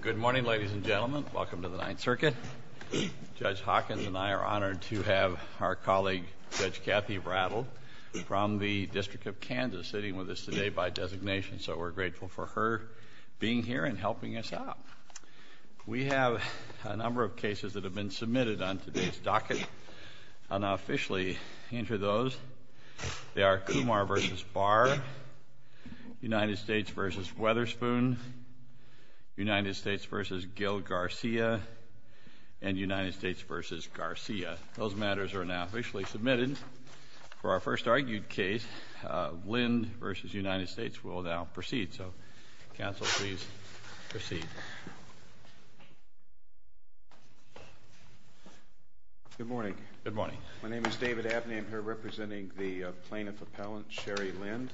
Good morning, ladies and gentlemen. Welcome to the Ninth Circuit. Judge Hawkins and I are honored to have our colleague Judge Kathy Brattle from the District of Kansas sitting with us today by designation, so we're grateful for her being here and helping us out. We have a number of cases that have been submitted on today's docket. I'll now officially enter those. They are Kumar v. Barr, United States v. Weatherspoon, United States v. Gil Garcia, and United States v. Garcia. Those matters are now officially submitted. For our first argued case, Lind v. United States will now proceed. So, counsel, please proceed. Good morning. Good morning. My name is David Abney. I'm here representing the plaintiff appellant, Shari Lind.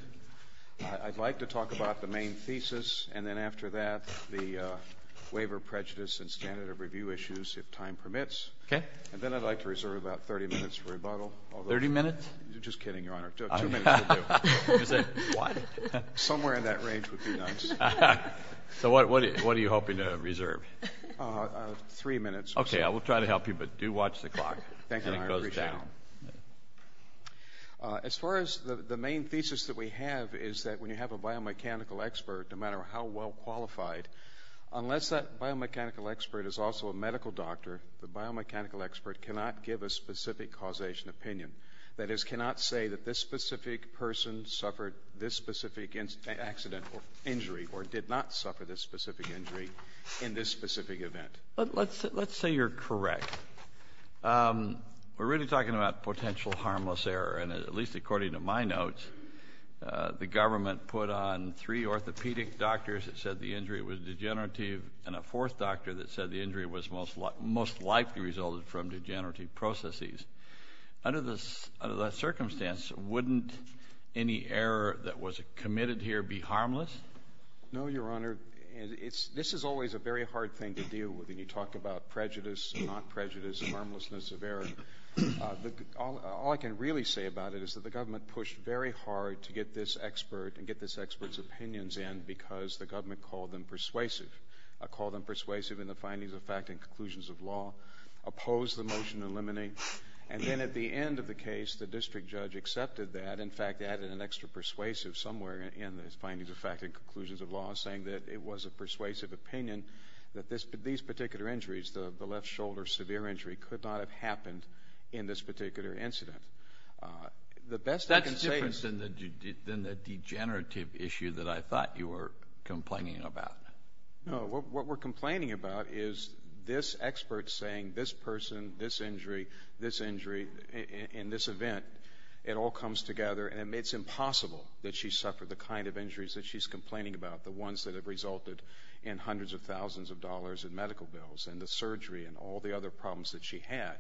I'd like to talk about the main thesis and then after that the waiver prejudice and standard of review issues, if time permits. Okay. And then I'd like to reserve about 30 minutes for rebuttal. Thirty minutes? Just kidding, Your Honor. Two minutes will do. Why? Somewhere in that range would be nice. So what are you hoping to reserve? Three minutes. Okay. I will try to help you, but do watch the clock. Thank you, Your Honor. And it goes down. As far as the main thesis that we have is that when you have a biomechanical expert, no matter how well qualified, unless that biomechanical expert is also a medical doctor, the biomechanical expert cannot give a specific causation opinion. That is, cannot say that this specific person suffered this specific accident or injury or did not suffer this specific injury in this specific event. Let's say you're correct. We're really talking about potential harmless error. And at least according to my notes, the government put on three orthopedic doctors that said the injury was degenerative and a fourth doctor that said the injury was most likely resulted from degenerative processes. Under that circumstance, wouldn't any error that was committed here be harmless? No, Your Honor. This is always a very hard thing to deal with. And you talk about prejudice, non-prejudice, harmlessness of error. All I can really say about it is that the government pushed very hard to get this expert and get this expert's opinions in because the government called them persuasive. Called them persuasive in the findings of fact and conclusions of law, opposed the motion to eliminate. And then at the end of the case, the district judge accepted that. In fact, added an extra persuasive somewhere in the findings of fact and conclusions of law saying that it was a persuasive opinion that these particular injuries, the left shoulder severe injury, could not have happened in this particular incident. That's different than the degenerative issue that I thought you were complaining about. No. What we're complaining about is this expert saying this person, this injury, this injury, and this event, it all comes together. And it's impossible that she suffered the kind of injuries that she's complaining about, the ones that have resulted in hundreds of thousands of dollars in medical bills and the surgery and all the other problems that she had.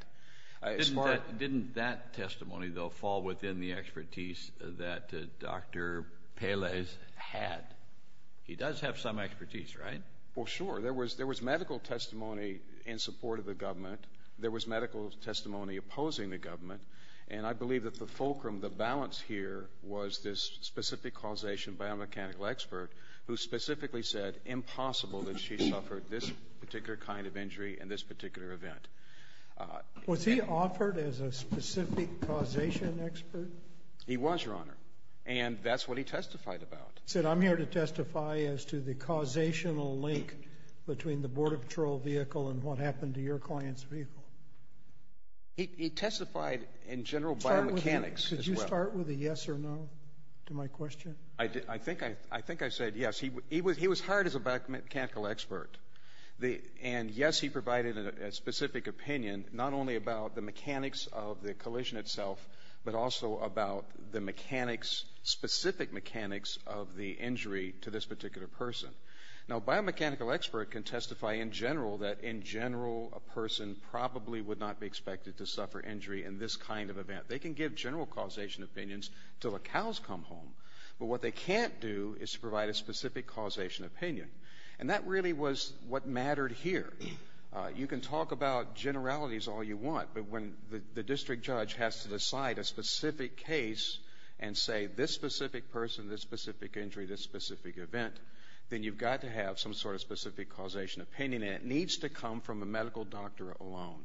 Didn't that testimony, though, fall within the expertise that Dr. Pelez had? He does have some expertise, right? Well, sure. There was medical testimony in support of the government. There was medical testimony opposing the government. And I believe that the fulcrum, the balance here was this specific causation biomechanical expert who specifically said impossible that she suffered this particular kind of injury and this particular event. Was he offered as a specific causation expert? He was, Your Honor. And that's what he testified about. He said, I'm here to testify as to the causational link between the Border Patrol vehicle and what happened to your client's vehicle. He testified in general biomechanics as well. Could you start with a yes or no to my question? I think I said yes. He was hired as a biomechanical expert. And, yes, he provided a specific opinion not only about the mechanics of the collision itself but also about the mechanics, specific mechanics of the injury to this particular person. Now, a biomechanical expert can testify in general that in general a person probably would not be expected to suffer injury in this kind of event. They can give general causation opinions until the cows come home. But what they can't do is provide a specific causation opinion. And that really was what mattered here. You can talk about generalities all you want, but when the district judge has to decide a specific case and say this specific person, this specific injury, this specific event, then you've got to have some sort of specific causation opinion, and it needs to come from a medical doctor alone.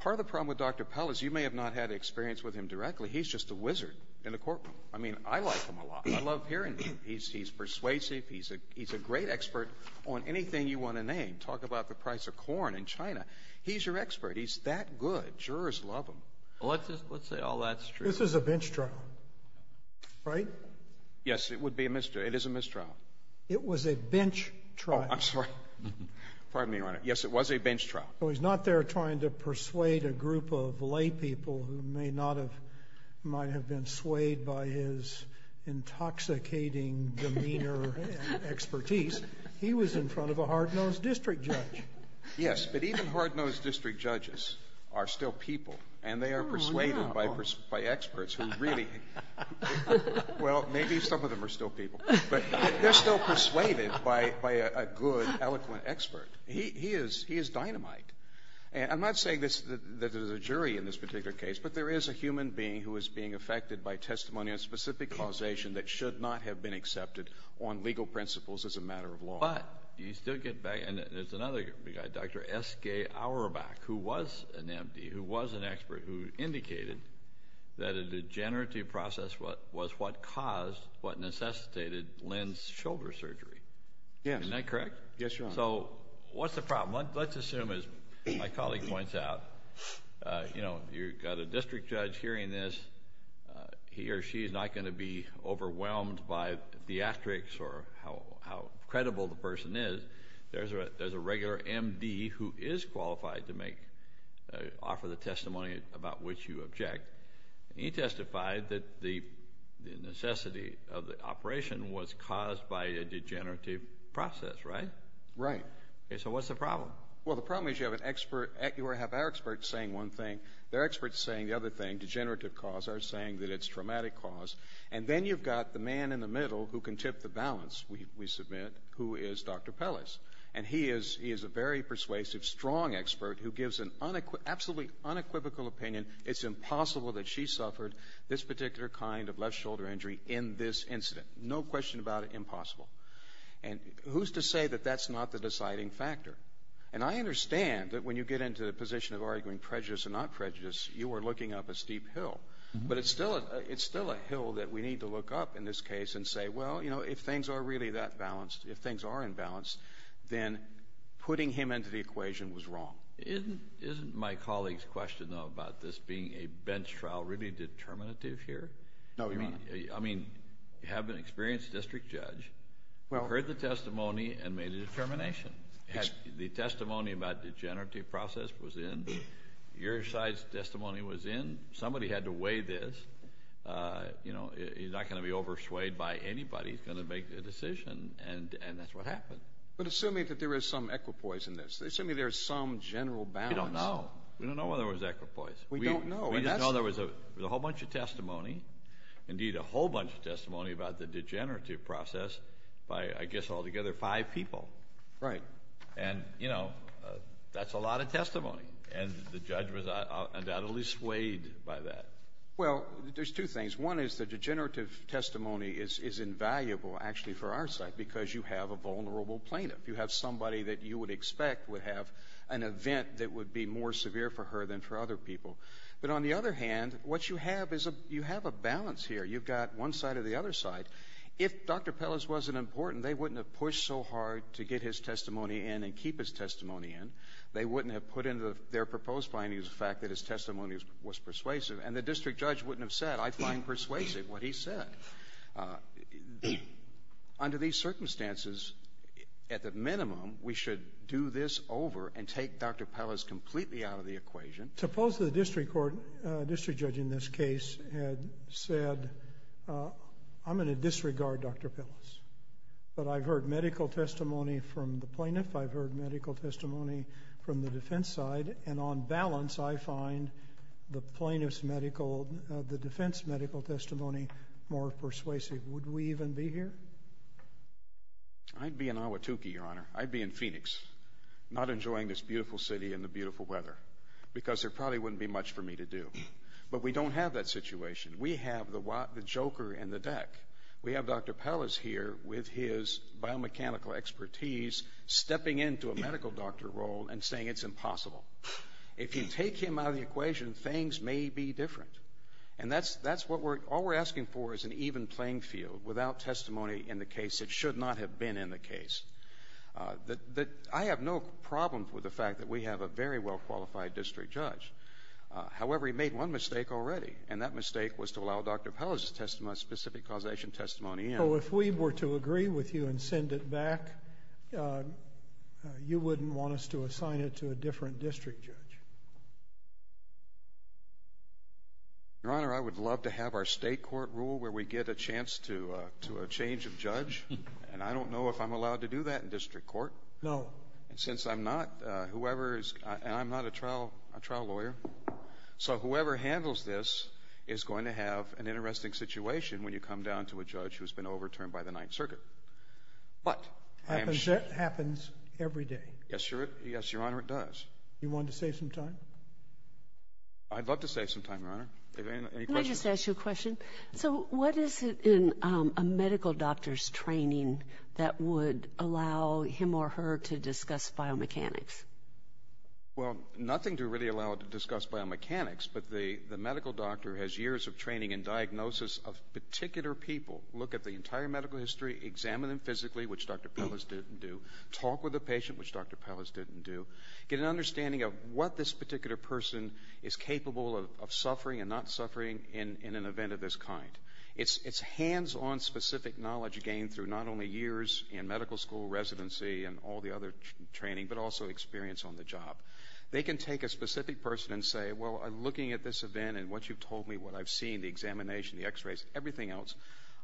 Part of the problem with Dr. Pell is you may have not had experience with him directly. He's just a wizard in the courtroom. I mean, I like him a lot. I love hearing him. He's persuasive. He's a great expert on anything you want to name. Talk about the price of corn in China. He's your expert. He's that good. Jurors love him. Well, let's just say all that's true. This is a bench trial, right? Yes, it would be a misjudgment. It is a mistrial. It was a bench trial. Oh, I'm sorry. Pardon me, Your Honor. Yes, it was a bench trial. So he's not there trying to persuade a group of laypeople who may not have — might have been swayed by his intoxicating demeanor and expertise. He was in front of a hard-nosed district judge. Yes, but even hard-nosed district judges are still people, and they are persuaded by experts who really — well, maybe some of them are still people, but they're still persuaded by a good, eloquent expert. He is dynamite. I'm not saying that there's a jury in this particular case, but there is a human being who is being affected by testimony on specific causation that should not have been accepted on legal principles as a matter of law. But you still get back — and there's another guy, Dr. S.K. Auerbach, who was an M.D., who was an expert who indicated that a degenerative process was what caused — what necessitated Lynn's shoulder surgery. Yes. Isn't that correct? Yes, Your Honor. So what's the problem? Let's assume, as my colleague points out, you know, you've got a district judge hearing this. He or she is not going to be overwhelmed by theatrics or how credible the person is. There's a regular M.D. who is qualified to make — offer the testimony about which you object. And he testified that the necessity of the operation was caused by a degenerative process, right? Right. Okay, so what's the problem? Well, the problem is you have an expert — you have our experts saying one thing. Their experts saying the other thing, degenerative cause, are saying that it's traumatic cause. And then you've got the man in the middle who can tip the balance, we submit, who is Dr. Pellis. And he is a very persuasive, strong expert who gives an absolutely unequivocal opinion it's impossible that she suffered this particular kind of left shoulder injury in this incident. No question about it, impossible. And who's to say that that's not the deciding factor? And I understand that when you get into the position of arguing prejudice or not prejudice, you are looking up a steep hill. But it's still a hill that we need to look up in this case and say, well, you know, if things are really that balanced, if things are in balance, then putting him into the equation was wrong. Isn't my colleague's question, though, about this being a bench trial really determinative here? No, Your Honor. I mean, you have an experienced district judge who heard the testimony and made a determination. The testimony about degenerative process was in. Your side's testimony was in. Somebody had to weigh this. And, you know, you're not going to be overswayed by anybody who's going to make a decision. And that's what happened. But assuming that there is some equipoise in this, assuming there's some general balance. We don't know. We don't know whether there was equipoise. We don't know. We didn't know there was a whole bunch of testimony, indeed a whole bunch of testimony about the degenerative process by, I guess, altogether five people. Right. And, you know, that's a lot of testimony. And the judge was undoubtedly swayed by that. Well, there's two things. One is the degenerative testimony is invaluable, actually, for our side because you have a vulnerable plaintiff. You have somebody that you would expect would have an event that would be more severe for her than for other people. But on the other hand, what you have is you have a balance here. You've got one side or the other side. If Dr. Pellis wasn't important, they wouldn't have pushed so hard to get his testimony in and keep his testimony in. They wouldn't have put into their proposed findings the fact that his testimony was persuasive. And the district judge wouldn't have said, I find persuasive what he said. Under these circumstances, at the minimum, we should do this over and take Dr. Pellis completely out of the equation. Suppose the district court, district judge in this case, had said, I'm going to disregard Dr. Pellis, but I've heard medical testimony from the plaintiff, I've heard medical testimony from the defense side. And on balance, I find the plaintiff's medical, the defense medical testimony more persuasive. Would we even be here? I'd be in Ahwatukee, Your Honor. I'd be in Phoenix, not enjoying this beautiful city and the beautiful weather because there probably wouldn't be much for me to do. But we don't have that situation. We have the joker in the deck. We have Dr. Pellis here with his biomechanical expertise stepping into a medical doctor role and saying it's impossible. If you take him out of the equation, things may be different. And that's what we're, all we're asking for is an even playing field without testimony in the case that should not have been in the case. I have no problem with the fact that we have a very well-qualified district judge. However, he made one mistake already, and that mistake was to allow Dr. Pellis' specific causation testimony in. So if we were to agree with you and send it back, you wouldn't want us to assign it to a different district judge? Your Honor, I would love to have our state court rule where we get a chance to a change of judge, and I don't know if I'm allowed to do that in district court. No. And since I'm not, whoever is, and I'm not a trial lawyer, so whoever handles this is going to have an interesting situation when you come down to a judge who has been overturned by the Ninth Circuit. But I am sure. That happens every day. Yes, Your Honor, it does. You want to save some time? I'd love to save some time, Your Honor. Do you have any questions? Can I just ask you a question? So what is it in a medical doctor's training that would allow him or her to discuss biomechanics? Well, nothing to really allow to discuss biomechanics, but the medical doctor has years of training and diagnosis of particular people, look at the entire medical history, examine them physically, which Dr. Pellis didn't do, talk with the patient, which Dr. Pellis didn't do, get an understanding of what this particular person is capable of suffering and not suffering in an event of this kind. It's hands-on specific knowledge gained through not only years in medical school residency and all the other training, but also experience on the job. They can take a specific person and say, well, looking at this event and what you've told me, what I've seen, the examination, the x-rays, everything else,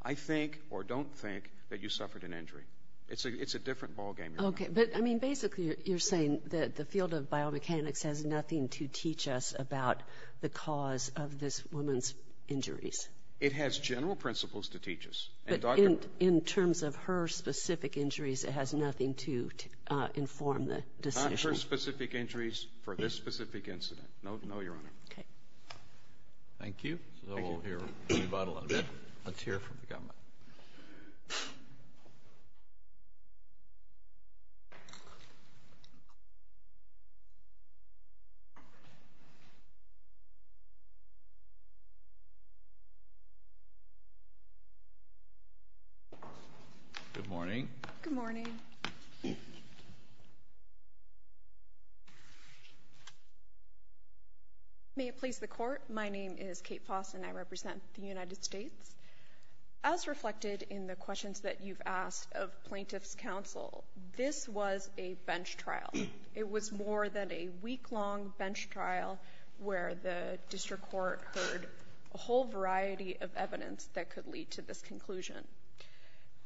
I think or don't think that you suffered an injury. It's a different ballgame, Your Honor. Okay. But, I mean, basically you're saying that the field of biomechanics has nothing to teach us about the cause of this woman's injuries. It has general principles to teach us. But in terms of her specific injuries, it has nothing to inform the decision. Not her specific injuries for this specific incident. No, Your Honor. Okay. Thank you. Thank you. So we'll hear from you about a little bit. Let's hear from the government. Good morning. Good morning. May it please the Court. My name is Kate Foss, and I represent the United States. As reflected in the questions that you've asked of plaintiff's counsel, this was a bench trial. It was more than a week-long bench trial where the district court heard a whole variety of evidence that could lead to this conclusion.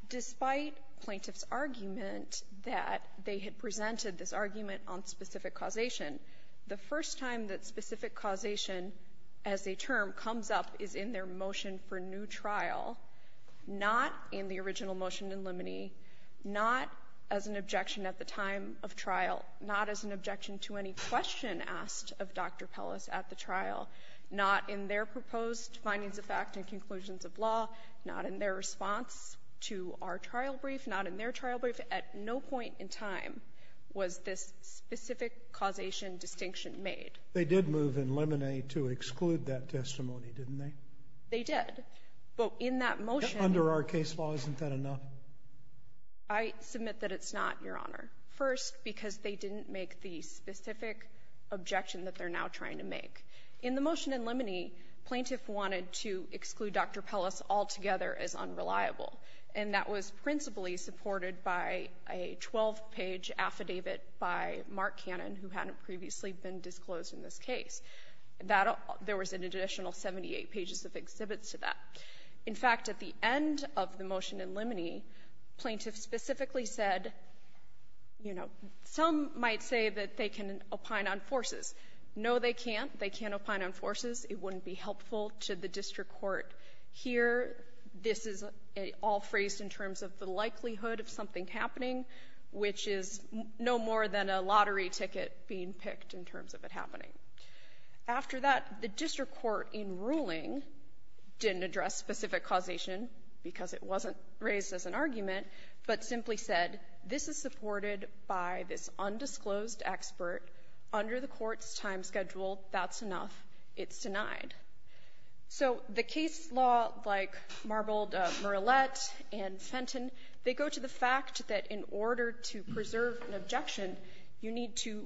Despite plaintiff's argument that they had presented this argument on specific causation, the first time that specific causation as a term comes up is in their motion for new trial, not in the original motion in limine, not as an objection at the time of trial, not as an objection to any question asked of Dr. Pellis at the trial, not in their proposed findings of fact and conclusions of law, not in their response to our trial brief, not in their trial brief, at no point in time was this specific causation distinction made. They did move in limine to exclude that testimony, didn't they? They did. But in that motion — Under our case law, isn't that enough? I submit that it's not, Your Honor. First, because they didn't make the specific objection that they're now trying to make. In the motion in limine, plaintiff wanted to exclude Dr. Pellis altogether as unreliable, and that was principally supported by a 12-page affidavit by Mark Cannon, who hadn't previously been disclosed in this case. That — there was an additional 78 pages of exhibits to that. In fact, at the end of the motion in limine, plaintiff specifically said, you know, some might say that they can opine on forces. No, they can't. They can't opine on forces. It wouldn't be helpful to the district court here. This is all phrased in terms of the likelihood of something happening, which is no more than a lottery ticket being picked in terms of it happening. After that, the district court in ruling didn't address specific causation because it wasn't raised as an argument, but simply said, this is supported by this undisclosed expert under the court's time schedule. That's enough. It's denied. So the case law, like Marbled, Murillette, and Fenton, they go to the fact that in order to preserve an objection, you need to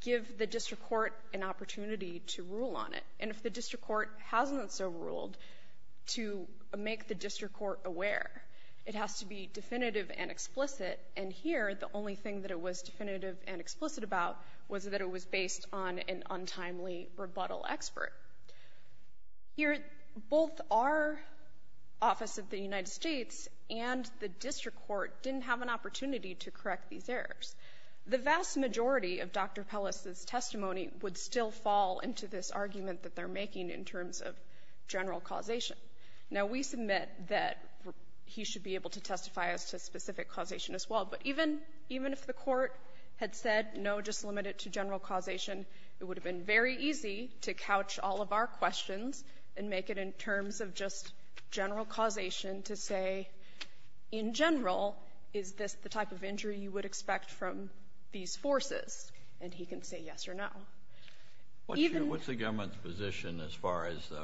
give the district court an opportunity to rule on it. And if the district court hasn't so ruled, to make the district court aware. It has to be definitive and explicit. And here, the only thing that it was definitive and explicit about was that it was based on an untimely rebuttal expert. Here, both our Office of the United States and the district court didn't have an opportunity to correct these errors. The vast majority of Dr. Pellis's testimony would still fall into this argument that they're making in terms of general causation. Now, we submit that he should be able to testify as to specific causation as well. But even if the court had said, no, just limit it to general causation, it would have been very easy to couch all of our questions and make it in terms of just general causation to say, in general, is this the type of injury you would expect from these forces? And he can say yes or no. What's the government's position as far as the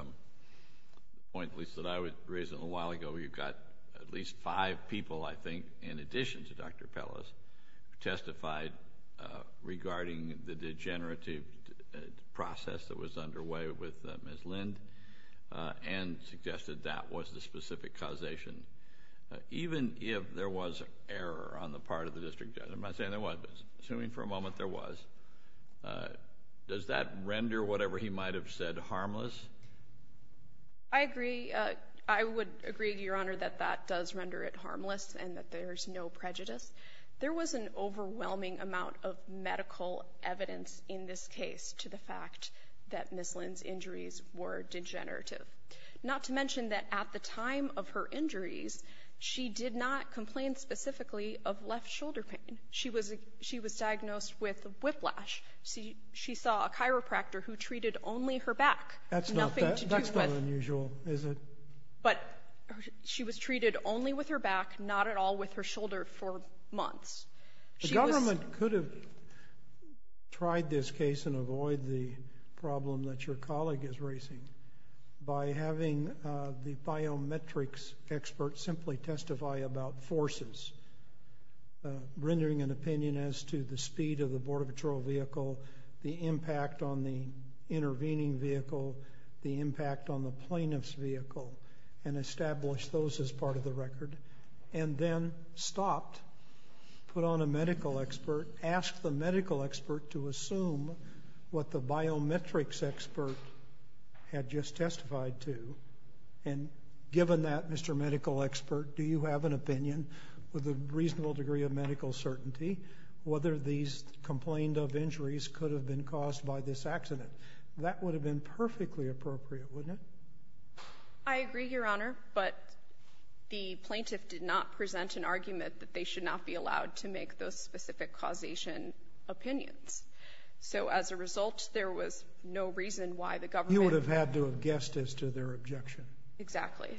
point, at least, that I raised a little while ago where you've got at least five people, I think, in addition to Dr. Pellis, who testified regarding the degenerative process that was underway with Ms. Lind and suggested that was the specific causation? Even if there was error on the part of the district judge, I'm not saying there wasn't, but assuming for a moment there was, does that render whatever he might have said harmless? I agree. I would agree, Your Honor, that that does render it harmless and that there's no prejudice. There was an overwhelming amount of medical evidence in this case to the fact that Ms. Lind's injuries were degenerative, not to mention that at the time of her injuries, she did not complain specifically of left shoulder pain. She was diagnosed with whiplash. She saw a chiropractor who treated only her back. That's not unusual, is it? But she was treated only with her back, not at all with her shoulder, for months. The government could have tried this case and avoid the problem that your colleague is rendering an opinion as to the speed of the Border Patrol vehicle, the impact on the intervening vehicle, the impact on the plaintiff's vehicle, and establish those as part of the record, and then stopped, put on a medical expert, asked the medical expert to assume what the biometrics expert had just testified to. And given that, Mr. Medical Expert, do you have an opinion with a reasonable degree of medical certainty whether these complained-of injuries could have been caused by this accident? That would have been perfectly appropriate, wouldn't it? I agree, Your Honor, but the plaintiff did not present an argument that they should not be allowed to make those specific causation opinions. So as a result, there was no reason why the government ---- You would have had to have guessed as to their objection. Exactly.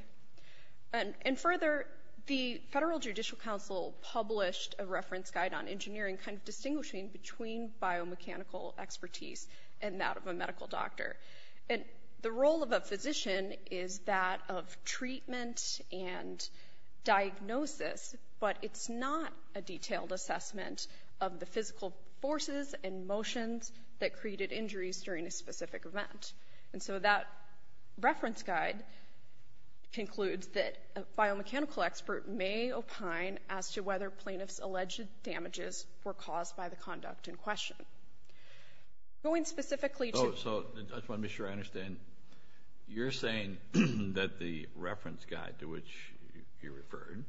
And further, the Federal Judicial Council published a reference guide on engineering kind of distinguishing between biomechanical expertise and that of a medical doctor. And the role of a physician is that of treatment and diagnosis, but it's not a detailed assessment of the physical forces and motions that created injuries during a specific event. And so that reference guide concludes that a biomechanical expert may opine as to whether plaintiffs' alleged damages were caused by the conduct in question. Going specifically to ---- Oh, so I just want to be sure I understand. You're saying that the reference guide to which you referred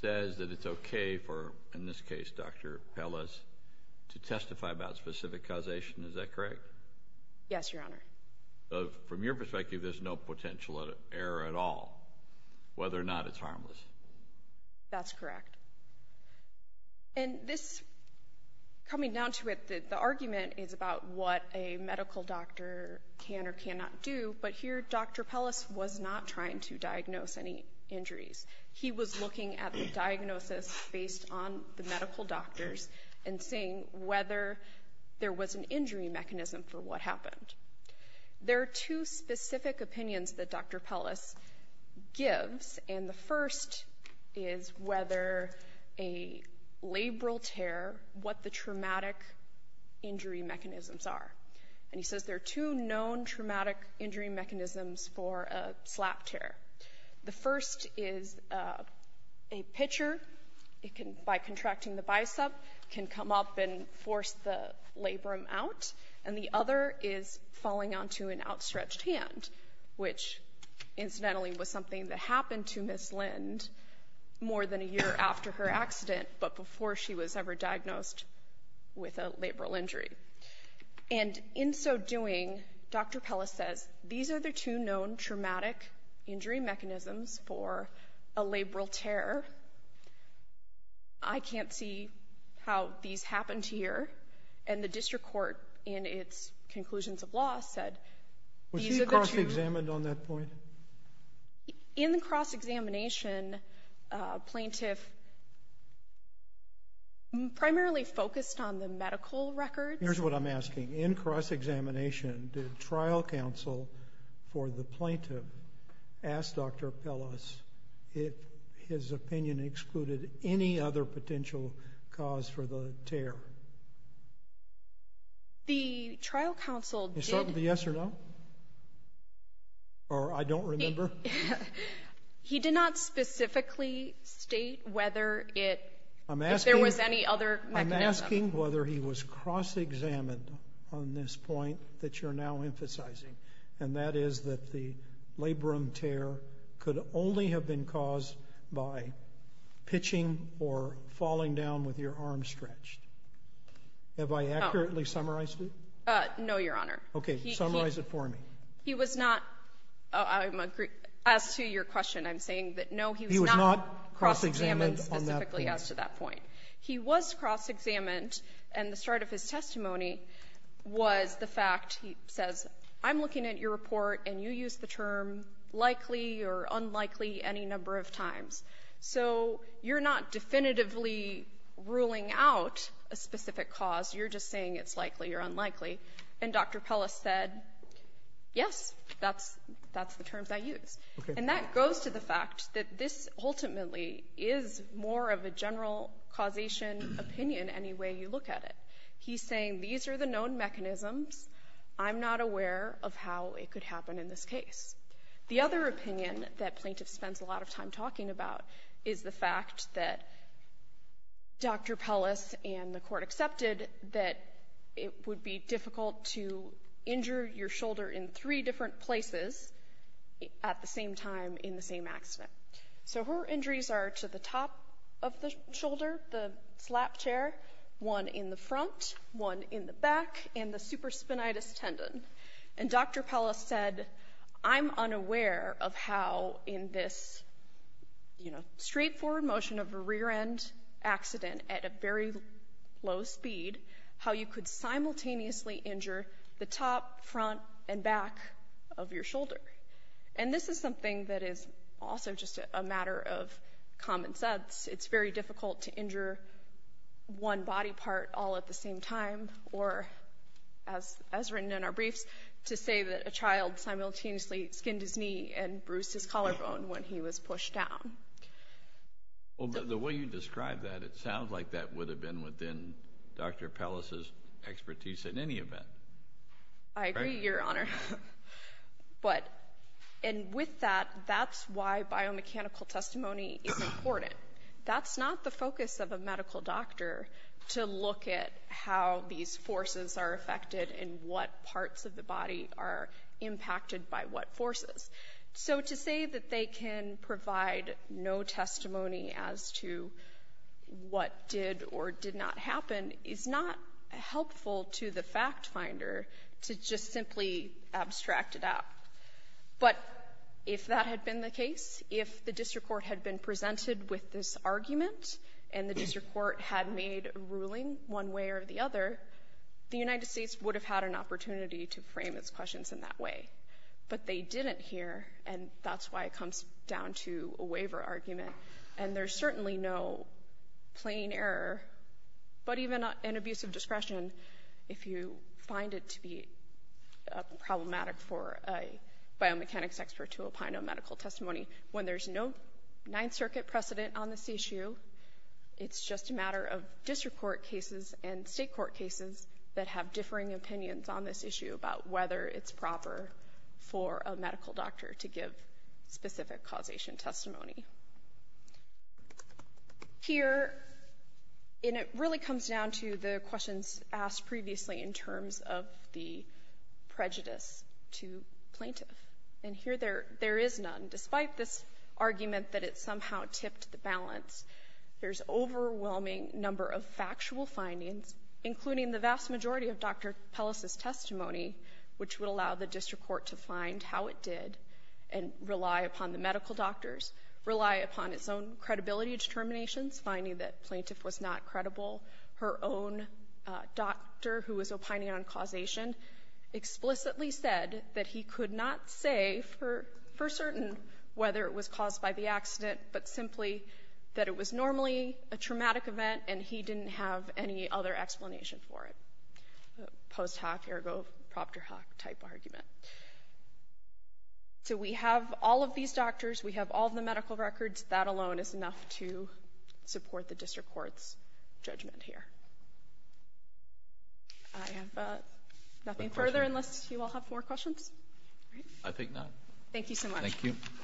says that it's okay for, in this case, Dr. Pellis, to testify about specific causation. Is that correct? Yes, Your Honor. From your perspective, there's no potential error at all, whether or not it's harmless. That's correct. And this, coming down to it, the argument is about what a medical doctor can or cannot do, but here Dr. Pellis was not trying to diagnose any injuries. He was looking at the diagnosis based on the medical doctors and seeing whether there was an injury mechanism for what happened. There are two specific opinions that Dr. Pellis gives, and the first is whether a labral tear, what the traumatic injury mechanisms are. And he says there are two known traumatic injury mechanisms for a slap tear. The first is a pitcher, by contracting the bicep, can come up and force the labrum out. And the other is falling onto an outstretched hand, which incidentally was something that happened to Ms. Lind more than a year after her accident, but before she was ever diagnosed with a labral injury. And in so doing, Dr. Pellis says these are the two known traumatic injury mechanisms for a labral tear. I can't see how these happened here. And the district court, in its conclusions of law, said these are the two. Were she cross-examined on that point? In the cross-examination, plaintiff primarily focused on the medical records. Here's what I'm asking. In cross-examination, did trial counsel for the plaintiff ask Dr. Pellis if his opinion excluded any other potential cause for the tear? The trial counsel did. Is that a yes or no? Or I don't remember? He did not specifically state whether there was any other mechanism. I'm asking whether he was cross-examined on this point that you're now emphasizing, and that is that the labrum tear could only have been caused by pitching or falling down with your arm stretched. Have I accurately summarized it? No, Your Honor. Okay. Summarize it for me. He was not, as to your question, I'm saying that, no, he was not cross-examined specifically as to that point. He was cross-examined, and the start of his testimony was the fact, he says, I'm looking at your report, and you used the term likely or unlikely any number of times. So you're not definitively ruling out a specific cause. You're just saying it's likely or unlikely. And Dr. Pellis said, yes, that's the terms I use. And that goes to the fact that this ultimately is more of a general causation opinion any way you look at it. He's saying these are the known mechanisms. I'm not aware of how it could happen in this case. The other opinion that plaintiffs spend a lot of time talking about is the fact that Dr. Pellis and the court accepted that it would be difficult to injure your shoulder in three different places at the same time in the same accident. So her injuries are to the top of the shoulder, the slap chair, one in the front, one in the back, and the supraspinatus tendon. And Dr. Pellis said, I'm unaware of how in this, you know, straightforward motion of a rear-end accident at a very low speed, how you could simultaneously injure the top, front, and back of your shoulder. And this is something that is also just a matter of common sense. It's very difficult to injure one body part all at the same time or, as written in our briefs, to say that a child simultaneously skinned his knee and bruised his The way you describe that, it sounds like that would have been within Dr. Pellis's expertise in any event. I agree, Your Honor. And with that, that's why biomechanical testimony is important. That's not the focus of a medical doctor to look at how these forces are affected and what parts of the body are impacted by what forces. So to say that they can provide no testimony as to what did or did not happen is not helpful to the factfinder to just simply abstract it out. But if that had been the case, if the district court had been presented with this argument and the district court had made a ruling one way or the other, the United States would have had an opportunity to frame its questions in that way. But they didn't here, and that's why it comes down to a waiver argument. And there's certainly no plain error, but even an abuse of discretion, if you find it to be problematic for a biomechanics expert to opine on medical testimony when there's no Ninth Circuit precedent on this issue. It's just a matter of district court cases and state court cases that have differing opinions on this issue about whether it's proper for a medical doctor to give specific causation testimony. Here, and it really comes down to the questions asked previously in terms of the prejudice to plaintiff. And here there is none. Despite this argument that it somehow tipped the balance, there's overwhelming number of factual findings, including the vast majority of Dr. Pellis' testimony, which would allow the district court to find how it did and rely upon the medical doctors, rely upon its own credibility determinations, finding that the plaintiff was not credible. Her own doctor, who was opining on causation, explicitly said that he could not say for certain whether it was caused by the accident, but simply that it was normally a traumatic event and he didn't have any other explanation for it. Post hoc ergo proctor hoc type argument. So we have all of these doctors. We have all of the medical records. That alone is enough to support the district court's judgment here. I have nothing further unless you all have more questions? I think not. Thank you so much. Thank you. Thank you.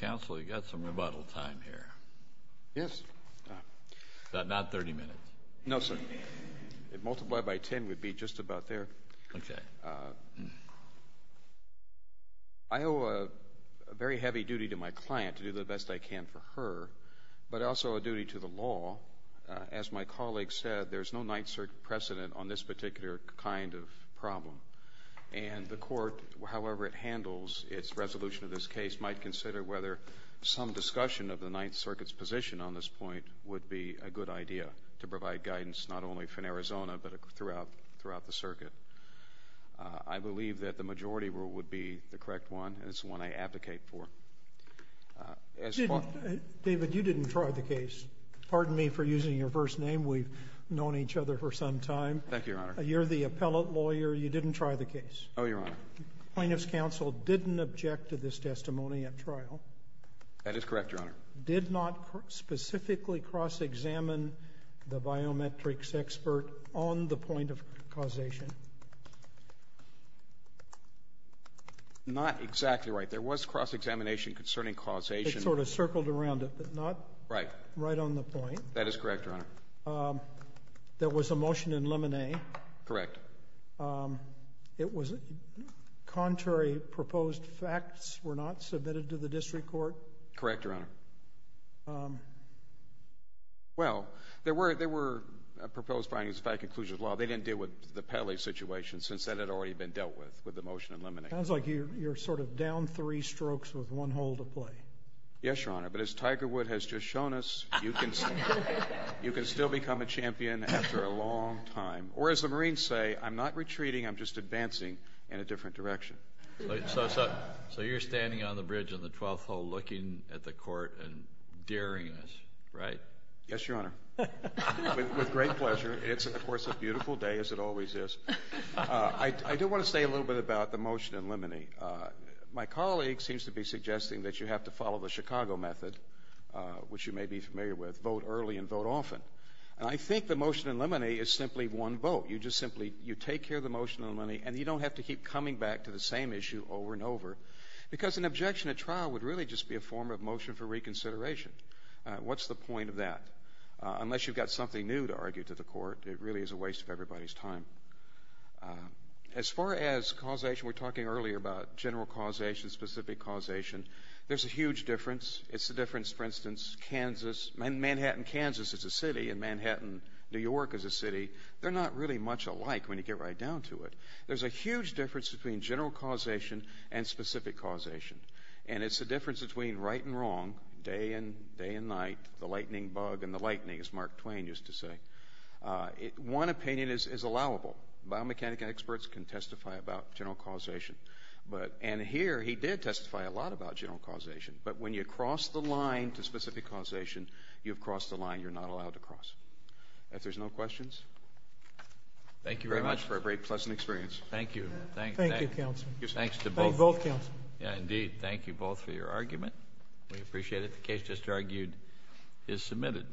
Counsel, you've got some rebuttal time here. Yes. But not 30 minutes. No, sir. If multiplied by 10, we'd be just about there. Okay. I owe a very heavy duty to my client to do the best I can for her, but also a duty to the law. As my colleague said, there's no Ninth Circuit precedent on this particular kind of problem. And the Court, however it handles its resolution of this case, might consider whether some discussion of the Ninth Circuit's position on this point would be a good idea to provide guidance not only from Arizona, but throughout the Circuit. I believe that the majority rule would be the correct one, and it's the one I advocate for. David, you didn't try the case. Pardon me for using your first name. We've known each other for some time. Thank you, Your Honor. You're the appellate lawyer. You didn't try the case. No, Your Honor. Plaintiff's counsel didn't object to this testimony at trial. That is correct, Your Honor. Did not specifically cross-examine the biometrics expert on the point of causation. Not exactly right. There was cross-examination concerning causation. It sort of circled around it, but not right on the point. Right. That is correct, Your Honor. There was a motion in Lemonet. Correct. It was contrary. Proposed facts were not submitted to the district court. Correct, Your Honor. Well, there were proposed findings by conclusion of the law. They didn't deal with the Pele situation, since that had already been dealt with, with the motion in Lemonet. Sounds like you're sort of down three strokes with one hole to play. Yes, Your Honor. But as Tiger Wood has just shown us, you can still become a champion after a long time. Or as the Marines say, I'm not retreating, I'm just advancing in a different direction. So you're standing on the bridge on the 12th hole looking at the court and daring us, right? Yes, Your Honor. With great pleasure. It's, of course, a beautiful day, as it always is. I do want to say a little bit about the motion in Lemonet. My colleague seems to be suggesting that you have to follow the Chicago method, which you may be familiar with, vote early and vote often. And I think the motion in Lemonet is simply one vote. You just simply take care of the motion in Lemonet, and you don't have to keep coming back to the same issue over and over, because an objection at trial would really just be a form of motion for reconsideration. What's the point of that? Unless you've got something new to argue to the court, it really is a waste of everybody's time. As far as causation, we were talking earlier about general causation, specific causation. There's a huge difference. It's the difference, for instance, Kansas. Manhattan, Kansas, is a city, and Manhattan, New York, is a city. They're not really much alike when you get right down to it. There's a huge difference between general causation and specific causation. And it's the difference between right and wrong, day and night, the lightning bug and the lightning, as Mark Twain used to say. One opinion is allowable. Biomechanics experts can testify about general causation. And here he did testify a lot about general causation. But when you cross the line to specific causation, you've crossed the line you're not allowed to cross. If there's no questions. Thank you very much for a very pleasant experience. Thank you. Thank you, counsel. Thanks to both. Thank you both, counsel. Indeed. Thank you both for your argument. We appreciate it. The case just argued is submitted.